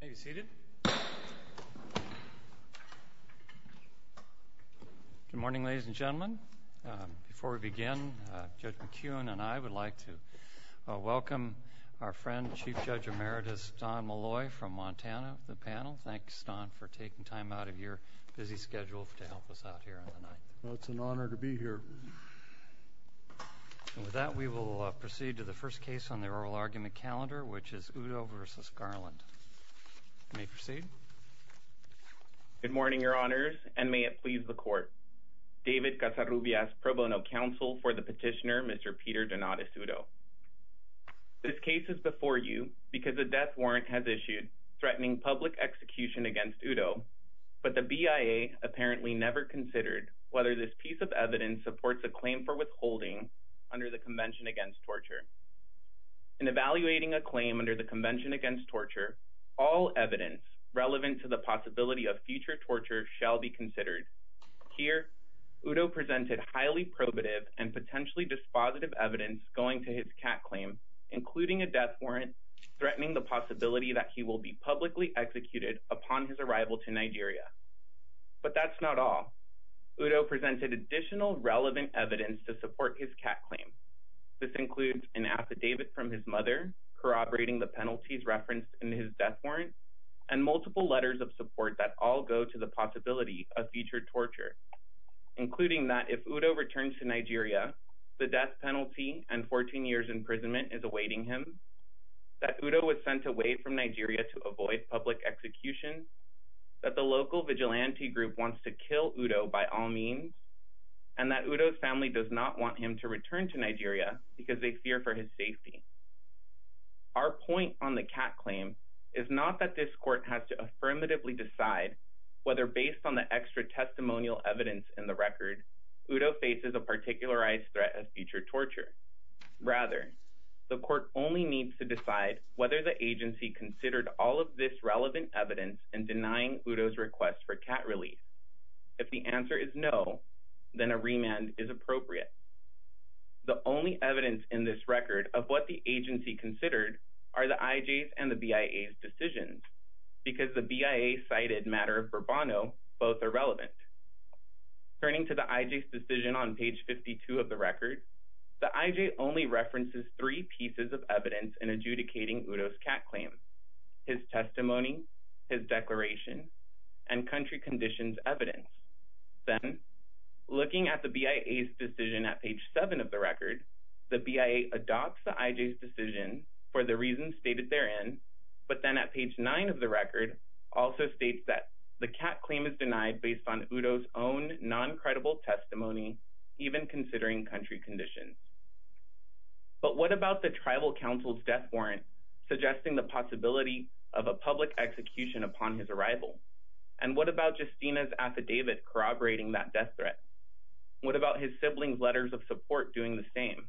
Good morning, ladies and gentlemen. Before we begin, Judge McKeon and I would like to welcome our friend Chief Judge Emeritus Don Molloy from Montana to the panel. Thanks, Don, for taking time out of your busy schedule to help us out here on the 9th. It's an honor to be here. And with that, we will proceed to the first case on the oral argument calendar, which is Udo v. Garland. You may proceed. Good morning, Your Honors, and may it please the Court. David Casarubias, Pro Bono Counsel for the Petitioner, Mr. Peter Donatus Udo. This case is before you because a death warrant has issued threatening public execution against Udo, but the BIA apparently never considered whether this piece of evidence supports a claim for withholding under the Convention Against Torture. In evaluating a claim under the Convention Against Torture, all evidence relevant to the possibility of future torture shall be considered. Here, Udo presented highly probative and potentially dispositive evidence going to his cat claim, including a death warrant threatening the possibility that he will be publicly executed upon his arrival to Nigeria. But that's not all. Udo presented additional relevant evidence to support his cat claim. This includes an affidavit from his mother corroborating the penalties referenced in his death warrant and multiple letters of support that all go to the possibility of future torture, including that if Udo returns to Nigeria, the death penalty and 14 years imprisonment is awaiting him, that Udo was sent away from Nigeria to avoid public execution, that the local vigilante group wants to kill Udo by all means, and that Udo's family does not want him to return to Nigeria because they fear for his safety. Our point on the cat claim is not that this court has to affirmatively decide whether based on the extra testimonial evidence in the record, Udo faces a particularized threat of future torture. Rather, the court only needs to decide whether the agency considered all of this relevant evidence in denying Udo's request for cat release. If the answer is no, then a remand is appropriate. The only evidence in this record of what the agency considered are the IJ's and the BIA's decisions, because the BIA cited matter of Burbano, both are relevant. Turning to the IJ's decision on page 52 of the record, the IJ only references three pieces of evidence in adjudicating Udo's cat claim, his testimony, his declaration, and country conditions evidence. Then, looking at the BIA's decision at page 7 of the record, the BIA adopts the IJ's decision for the reasons stated therein, but then at page 9 of the record, also states that the cat claim is denied based on Udo's own non-credible testimony, even considering country conditions. But what about the tribal council's death warrant suggesting the possibility of a public execution upon his arrival? And what about Justina's affidavit corroborating that death threat? What about his siblings' letters of support doing the same?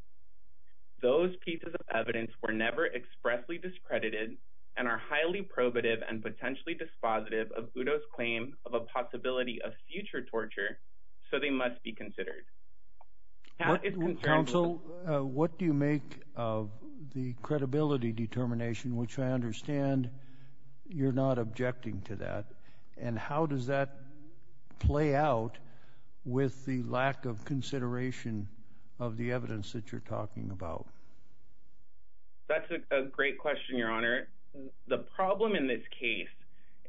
Those pieces of evidence were never expressly discredited and are highly probative and potentially dispositive of Udo's claim of a possibility of future torture, so they must be considered. Council, what do you make of the credibility determination, which I understand you're not objecting to that, and how does that play out with the lack of consideration of the evidence that you're talking about? That's a great question, Your Honor. The problem in this case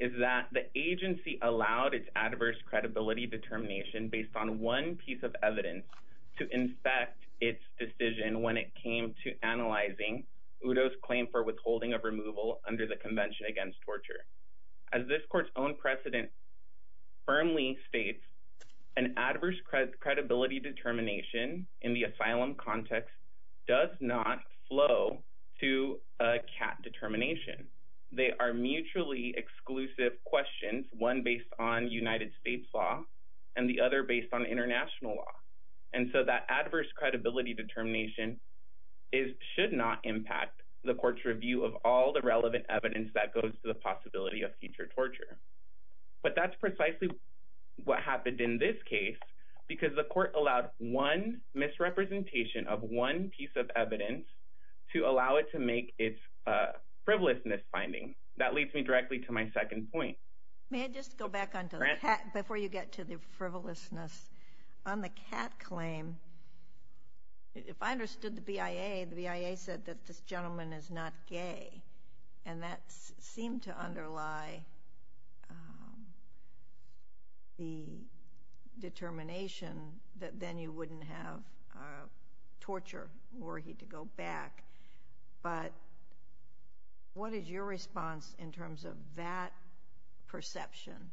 is that the agency allowed its adverse credibility determination based on one piece of evidence to infect its decision when it came to analyzing Udo's claim for withholding of removal under the Convention Against Torture. As this court's own precedent firmly states, an adverse credibility determination in the asylum context does not flow to a cat determination. They are mutually exclusive questions, one based on United States law and the other based on international law. And so that adverse credibility determination should not impact the court's review of all the relevant evidence that goes to the possibility of future torture. But that's precisely what happened in this case because the court allowed one misrepresentation of one piece of evidence to allow it to make its frivolousness finding. That leads me directly to my second point. May I just go back on to the cat before you get to the frivolousness? On the cat claim, if I understood the BIA, the BIA said that this gentleman is not gay, and that seemed to underlie the determination that then you wouldn't have torture were he to go back. But what is your response in terms of that perception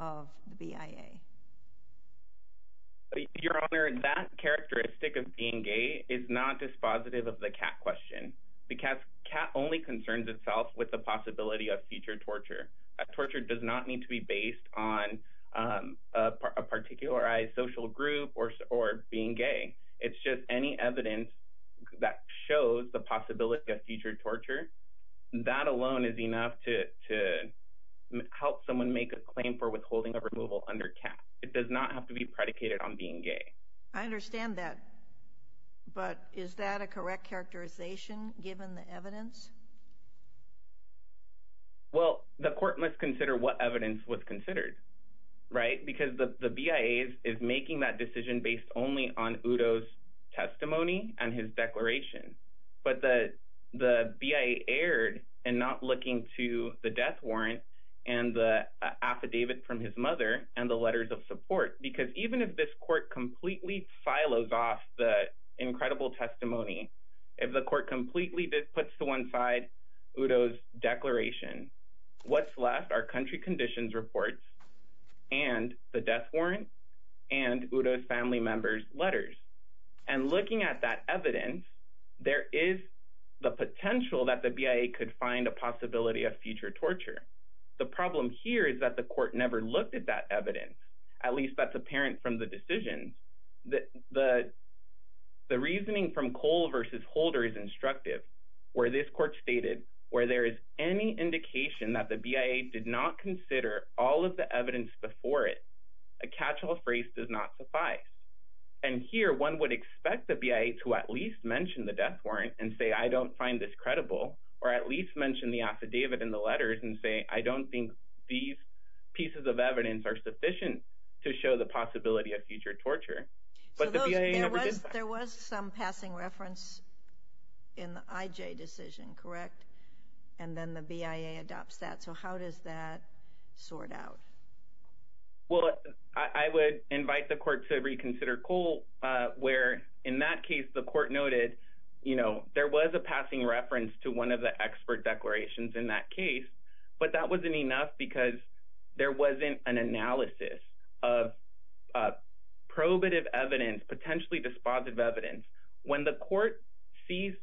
of the BIA? Your Honor, that characteristic of being gay is not dispositive of the cat question. The cat only concerns itself with the possibility of future torture. A torture does not need to be based on a particularized social group or being gay. It's just any evidence that shows the possibility of future torture, that alone is enough to help someone make a claim for withholding a removal under cat. It does not have to be predicated on being gay. I understand that, but is that a correct characterization given the evidence? Well, the court must consider what evidence was considered, right? Because the BIA is making that decision based only on Udo's testimony and his declaration. But the BIA erred in not looking to the death warrant and the affidavit from his mother and the letters of support, because even if this court completely silos off the incredible testimony, if the court completely puts to one side Udo's declaration, what's left are the death warrant and Udo's family member's letters. And looking at that evidence, there is the potential that the BIA could find a possibility of future torture. The problem here is that the court never looked at that evidence, at least that's apparent from the decision. The reasoning from Cole versus Holder is instructive, where this court stated where there is any A catch-all phrase does not suffice. And here, one would expect the BIA to at least mention the death warrant and say, I don't find this credible, or at least mention the affidavit and the letters and say, I don't think these pieces of evidence are sufficient to show the possibility of future torture. But the BIA never did that. There was some passing reference in the IJ decision, correct? And then the BIA adopts that. So how does that sort out? Well, I would invite the court to reconsider Cole, where in that case, the court noted, you know, there was a passing reference to one of the expert declarations in that case, but that wasn't enough because there wasn't an analysis of probative evidence, potentially dispositive evidence. When the court sees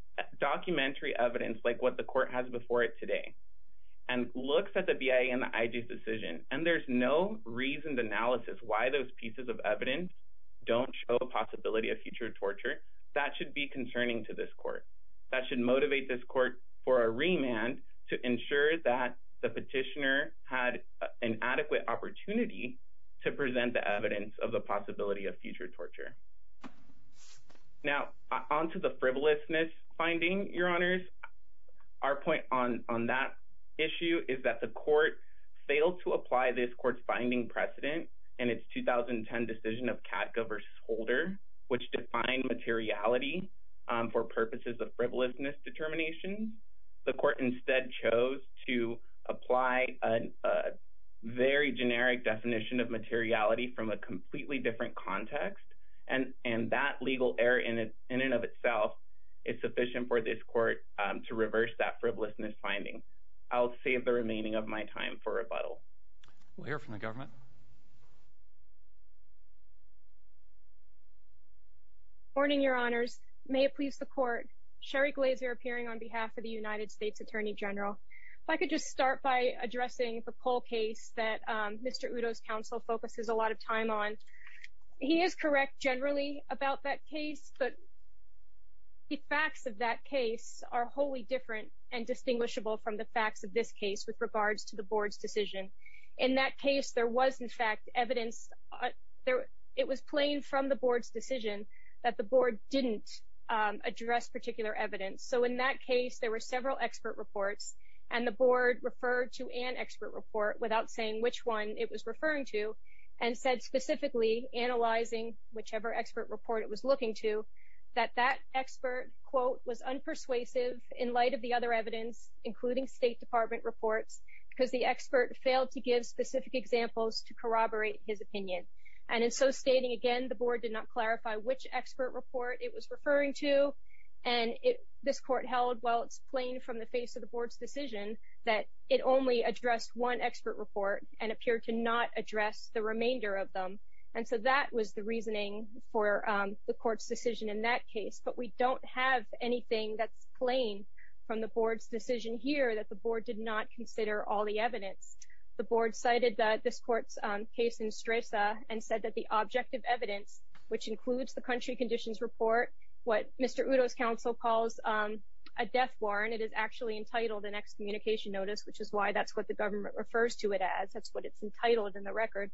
documentary evidence, like what the court has before it today, and there's no reasoned analysis why those pieces of evidence don't show the possibility of future torture, that should be concerning to this court. That should motivate this court for a remand to ensure that the petitioner had an adequate opportunity to present the evidence of the possibility of future torture. Now, on to the frivolousness finding, your honors, our point on that issue is that the court rejected this court's finding precedent in its 2010 decision of Katka v. Holder, which defined materiality for purposes of frivolousness determination. The court instead chose to apply a very generic definition of materiality from a completely different context, and that legal error in and of itself is sufficient for this court to reverse that frivolousness finding. I'll save the remaining of my time for rebuttal. We'll hear from the government. Warning, your honors. May it please the court. Sherry Glazer appearing on behalf of the United States Attorney General. If I could just start by addressing the Cole case that Mr. Udo's counsel focuses a lot of time on. He is correct generally about that case, but the facts of that case are wholly different and distinguishable from the facts of this case with regards to the board's decision. In that case, there was, in fact, evidence. It was plain from the board's decision that the board didn't address particular evidence. So in that case, there were several expert reports, and the board referred to an expert report without saying which one it was referring to and said specifically, analyzing whichever expert report it was looking to, that that expert, quote, was unpersuasive in light of the other evidence, including State Department reports, because the expert failed to give specific examples to corroborate his opinion. And in so stating, again, the board did not clarify which expert report it was referring to, and this court held, well, it's plain from the face of the board's decision that it only addressed one expert report and appeared to not address the remainder of them. And so that was the reasoning for the court's decision in that case. But we don't have anything that's plain from the board's decision here that the board did not consider all the evidence. The board cited this court's case in Stresa and said that the objective evidence, which includes the country conditions report, what Mr. Udo's counsel calls a death warrant, it is actually entitled an excommunication notice, which is why that's what the government refers to it as. That's what it's entitled in the record.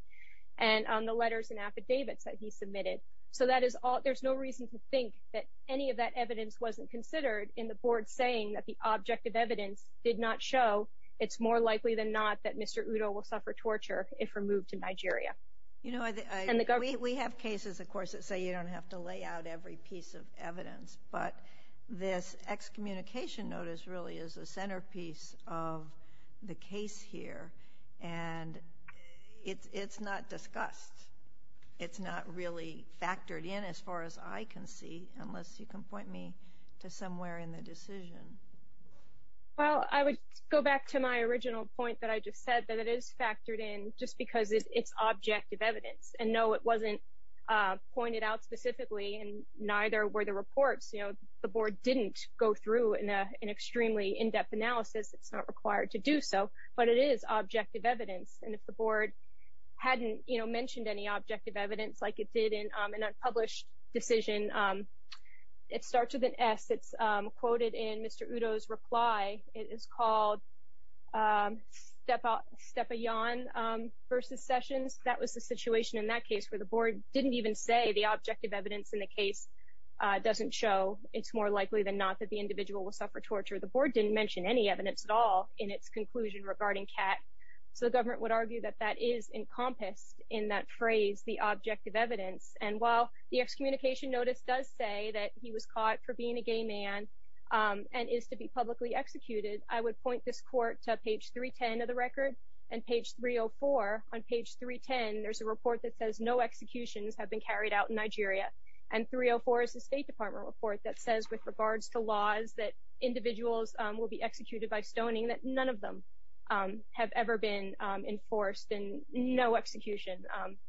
And the letters and affidavits that he submitted. So that is all. There's no reason to think that any of that evidence wasn't considered in the board saying that the objective evidence did not show it's more likely than not that Mr. Udo will suffer torture if removed in Nigeria. You know, we have cases, of course, that say you don't have to lay out every piece of evidence, but this excommunication notice really is a centerpiece of the case here. And it's not discussed. It's not really factored in as far as I can see, unless you can point me to somewhere in the decision. Well, I would go back to my original point that I just said, that it is factored in just because it's objective evidence. And no, it wasn't pointed out specifically, and neither were the reports. You know, the board didn't go through an extremely in-depth analysis. It's not required to do so. But it is objective evidence. And if the board hadn't, you know, mentioned any objective evidence like it did in an unpublished decision, it starts with an S. It's quoted in Mr. Udo's reply. It is called Stepayan versus Sessions. That was the situation in that case where the board didn't even say the objective evidence in the case doesn't show it's more likely than not that the individual will suffer torture. The board didn't mention any evidence at all in its conclusion regarding Kat. So the government would argue that that is encompassed in that phrase, the objective evidence. And while the excommunication notice does say that he was caught for being a gay man and is to be publicly executed, I would point this court to page 310 of the record. And page 304, on page 310, there's a report that says no executions have been carried out in Nigeria. And 304 is a State Department report that says with regards to laws that individuals will be executed by stoning, that none of them have ever been enforced and no execution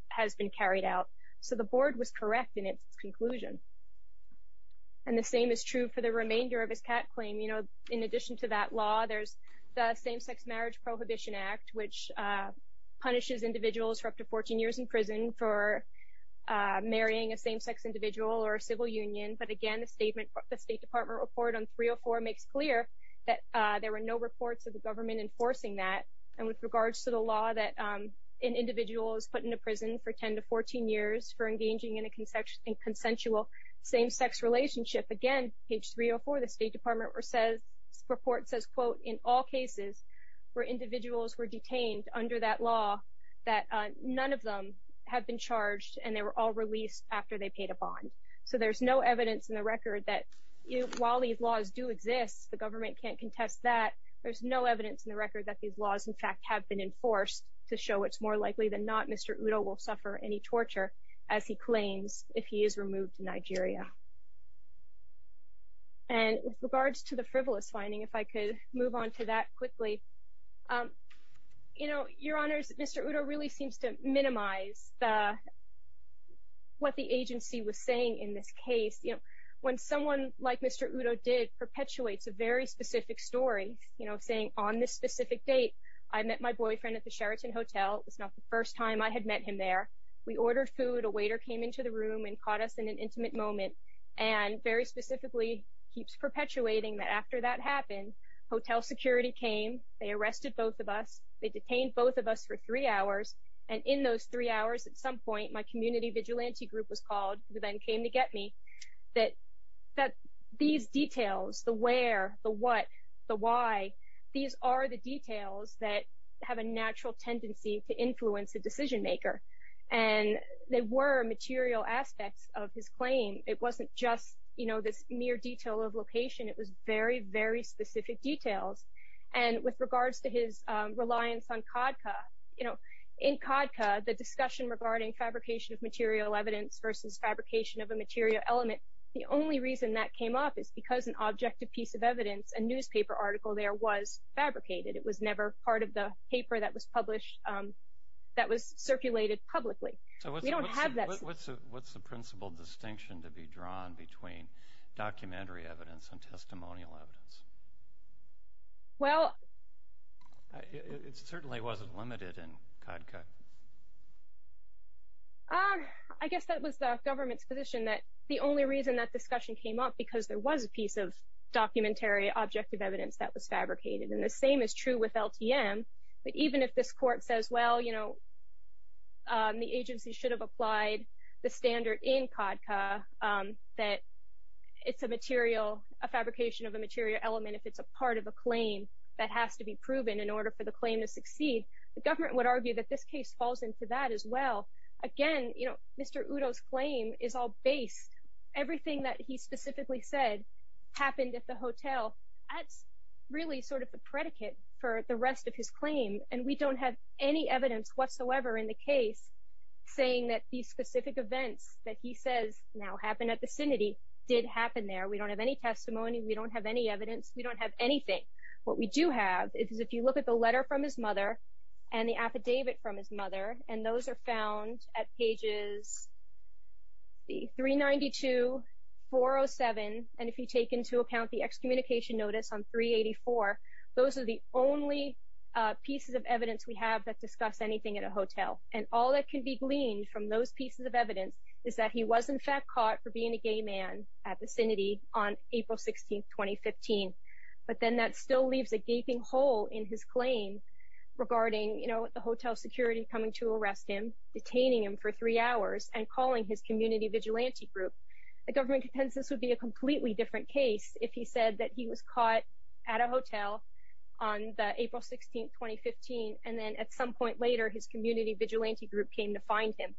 has been carried out. So the board was correct in its conclusion. And the same is true for the remainder of his Kat claim. You know, in addition to that law, there's the Same-Sex Marriage Prohibition Act which punishes individuals for up to 14 years in prison for marrying a same-sex individual or a civil union. But again, the State Department report on 304 makes clear that there were no reports of the government enforcing that. And with regards to the law that an individual is put into prison for 10 to 14 years for engaging in a consensual same-sex relationship, again, page 304 of the State Department report says, quote, in all cases where individuals were detained under that law, that none of them have been charged and they were all released after they paid a bond. So there's no evidence in the record that while these laws do exist, the government can't contest that. There's no evidence in the record that these laws, in fact, have been enforced to show it's more likely than not Mr. Udo will suffer any torture as he claims if he is removed to Nigeria. And with regards to the frivolous finding, if I could move on to that quickly, you know, in this case, you know, when someone like Mr. Udo did perpetuates a very specific story, you know, saying on this specific date, I met my boyfriend at the Sheraton Hotel. It was not the first time I had met him there. We ordered food. A waiter came into the room and caught us in an intimate moment and very specifically keeps perpetuating that after that happened, hotel security came. They arrested both of us. They detained both of us for three hours. And in those three hours, at some point, my community vigilante group was called, who came to get me, that these details, the where, the what, the why, these are the details that have a natural tendency to influence a decision maker. And they were material aspects of his claim. It wasn't just, you know, this mere detail of location. It was very, very specific details. And with regards to his reliance on CADCA, you know, in CADCA, the discussion regarding fabrication of material evidence versus fabrication of a material element, the only reason that came up is because an objective piece of evidence, a newspaper article there, was fabricated. It was never part of the paper that was published, that was circulated publicly. We don't have that. So what's the principal distinction to be drawn between documentary evidence and testimonial evidence? Well. It certainly wasn't limited in CADCA. I guess that was the government's position that the only reason that discussion came up because there was a piece of documentary objective evidence that was fabricated. And the same is true with LTM. But even if this court says, well, you know, the agency should have applied the standard in CADCA that it's a material, a fabrication of a material element, if it's a part of a claim that has to be proven in order for the claim to succeed, the government would argue that this case falls into that as well. Again, you know, Mr. Udo's claim is all based, everything that he specifically said happened at the hotel. That's really sort of the predicate for the rest of his claim. And we don't have any evidence whatsoever in the case saying that these specific events that he says now happened at the vicinity did happen there. We don't have any testimony. We don't have any evidence. We don't have anything. What we do have is if you look at the letter from his mother and the affidavit from his at pages 392, 407, and if you take into account the excommunication notice on 384, those are the only pieces of evidence we have that discuss anything at a hotel. And all that can be gleaned from those pieces of evidence is that he was in fact caught for being a gay man at vicinity on April 16, 2015. But then that still leaves a gaping hole in his claim regarding, you know, the hotel security coming to arrest him, detaining him for three hours, and calling his community vigilante group. The government contends this would be a completely different case if he said that he was caught at a hotel on April 16, 2015, and then at some point later his community vigilante group came to find him.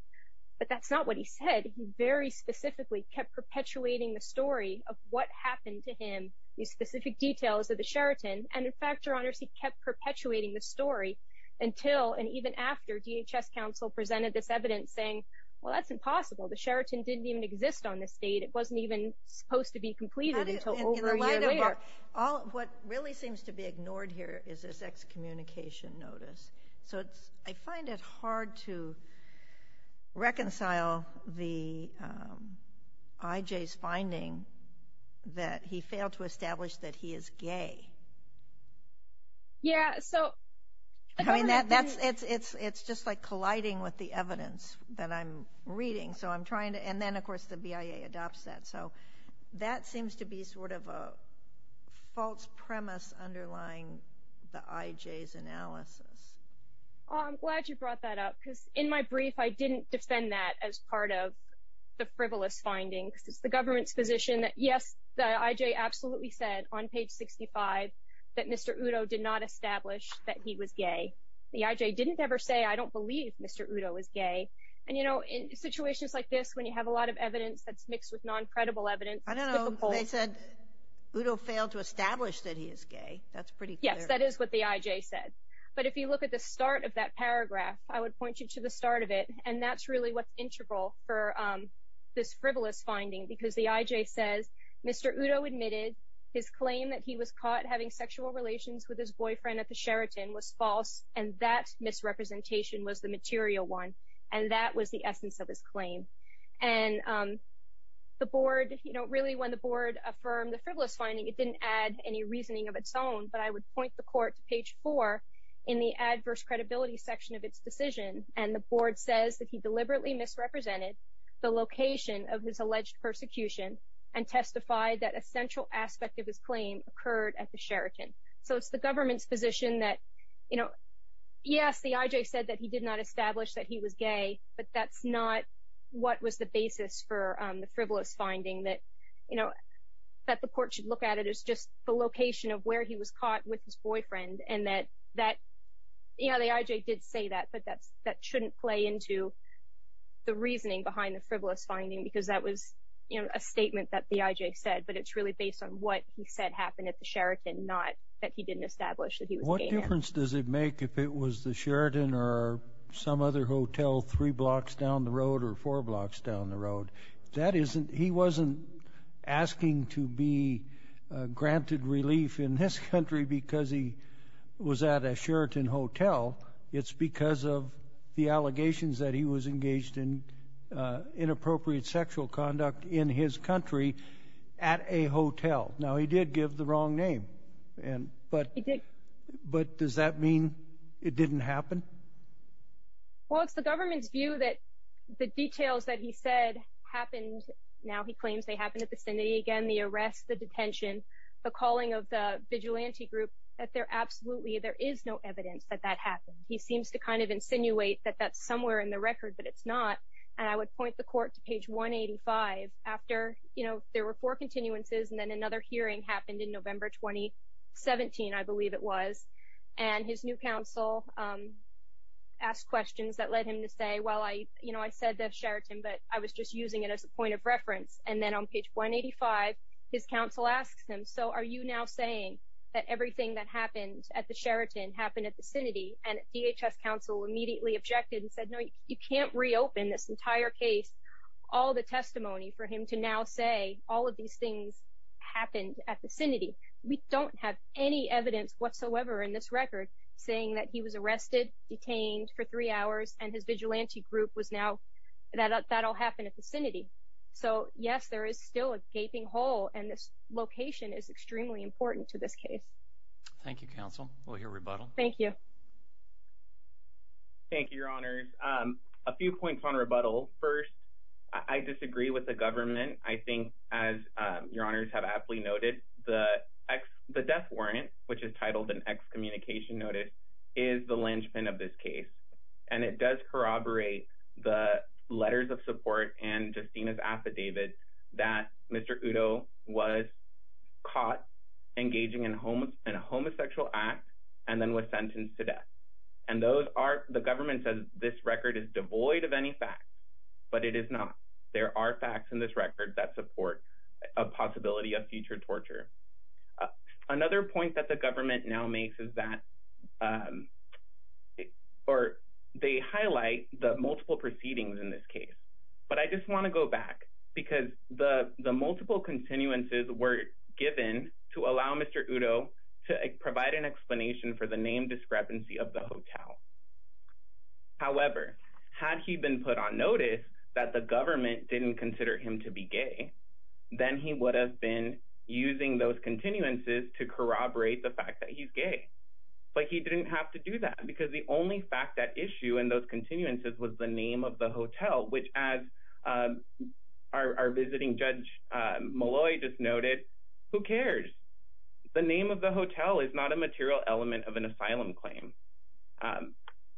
But that's not what he said. He very specifically kept perpetuating the story of what happened to him, the specific details of the Sheraton. And in fact, Your Honors, he kept perpetuating the story until and even after DHS counsel presented this evidence saying, well, that's impossible. The Sheraton didn't even exist on this date. It wasn't even supposed to be completed until over a year later. And in the light of our – what really seems to be ignored here is this excommunication notice. So it's – I find it hard to reconcile the – I.J.'s finding that he failed to establish that he is gay. Yeah, so – I mean, that's – it's just like colliding with the evidence that I'm reading. So I'm trying to – and then, of course, the BIA adopts that. So that seems to be sort of a false premise underlying the I.J.'s analysis. Well, I'm glad you brought that up, because in my brief I didn't defend that as part of the frivolous findings. It's the government's position that, yes, the I.J. absolutely said on page 65 that Mr. Udo did not establish that he was gay. The I.J. didn't ever say, I don't believe Mr. Udo is gay. And, you know, in situations like this, when you have a lot of evidence that's mixed with non-credible evidence, it's difficult – I don't know. They said Udo failed to establish that he is gay. That's pretty clear. Yes, that is what the I.J. said. But if you look at the start of that paragraph, I would point you to the start of it, and that's really what's integral for this frivolous finding, because the I.J. says, Mr. Udo admitted his claim that he was caught having sexual relations with his boyfriend at the Sheraton was false, and that misrepresentation was the material one, and that was the essence of his claim. And the board, you know, really when the board affirmed the frivolous finding, it didn't add any reasoning of its own, but I would point the court to page 4 in the adverse credibility section of its decision. And the board says that he deliberately misrepresented the location of his alleged persecution and testified that a central aspect of his claim occurred at the Sheraton. So it's the government's position that, you know, yes, the I.J. said that he did not establish that he was gay, but that's not what was the basis for the frivolous finding that, you know, that the court should look at it as just the location of where he was shouldn't play into the reasoning behind the frivolous finding, because that was, you know, a statement that the I.J. said, but it's really based on what he said happened at the Sheraton, not that he didn't establish that he was gay. What difference does it make if it was the Sheraton or some other hotel three blocks down the road or four blocks down the road? That isn't, he wasn't asking to be granted relief in this country because he was at a Sheraton hotel. It's because of the allegations that he was engaged in inappropriate sexual conduct in his country at a hotel. Now, he did give the wrong name, but does that mean it didn't happen? Well, it's the government's view that the details that he said happened, now he claims they happened at the vicinity again, the arrest, the detention, the calling of the vigilante group, that there absolutely, there is no evidence that that happened. He seems to kind of insinuate that that's somewhere in the record, but it's not. And I would point the court to page 185 after, you know, there were four continuances and then another hearing happened in November 2017, I believe it was, and his new counsel asked questions that led him to say, well, I, you know, I said the Sheraton, but I was just using it as a point of reference. And then on page 185, his counsel asks him, so are you now saying that everything that happened at the Sheraton happened at the vicinity? And DHS counsel immediately objected and said, no, you can't reopen this entire case, all the testimony for him to now say all of these things happened at the vicinity. We don't have any evidence whatsoever in this record saying that he was arrested, detained for three hours, and his vigilante group was now, that all happened at the vicinity. So, yes, there is still a gaping hole, and this location is extremely important to this case. Thank you, counsel. We'll hear rebuttal. Thank you. Thank you, your honors. A few points on rebuttal. First, I disagree with the government. I think, as your honors have aptly noted, the death warrant, which is titled an excommunication notice, is the linchpin of this case. And it does corroborate the letters of support and Justina's affidavit that Mr. Udo was caught engaging in a homosexual act and then was sentenced to death. And the government says this record is devoid of any facts, but it is not. There are facts in this record that support a possibility of future torture. Another point that the government now makes is that, or they highlight the multiple proceedings in this case. But I just want to go back because the multiple continuances were given to allow Mr. Udo to provide an explanation for the name discrepancy of the hotel. However, had he been put on notice that the government didn't consider him to be gay, then he would have been using those continuances to corroborate the fact that he's gay. But he didn't have to do that because the only fact at issue in those continuances was the name of the hotel, which, as our visiting Judge Molloy just noted, who cares? The name of the hotel is not a material element of an asylum claim.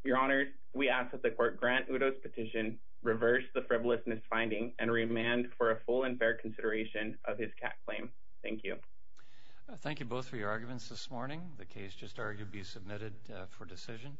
Your honors, we ask that the court grant Udo's petition, reverse the frivolous misfinding, and remand for a full and fair consideration of his cat claim. Thank you. Thank you both for your arguments this morning. The case just argued be submitted for decision.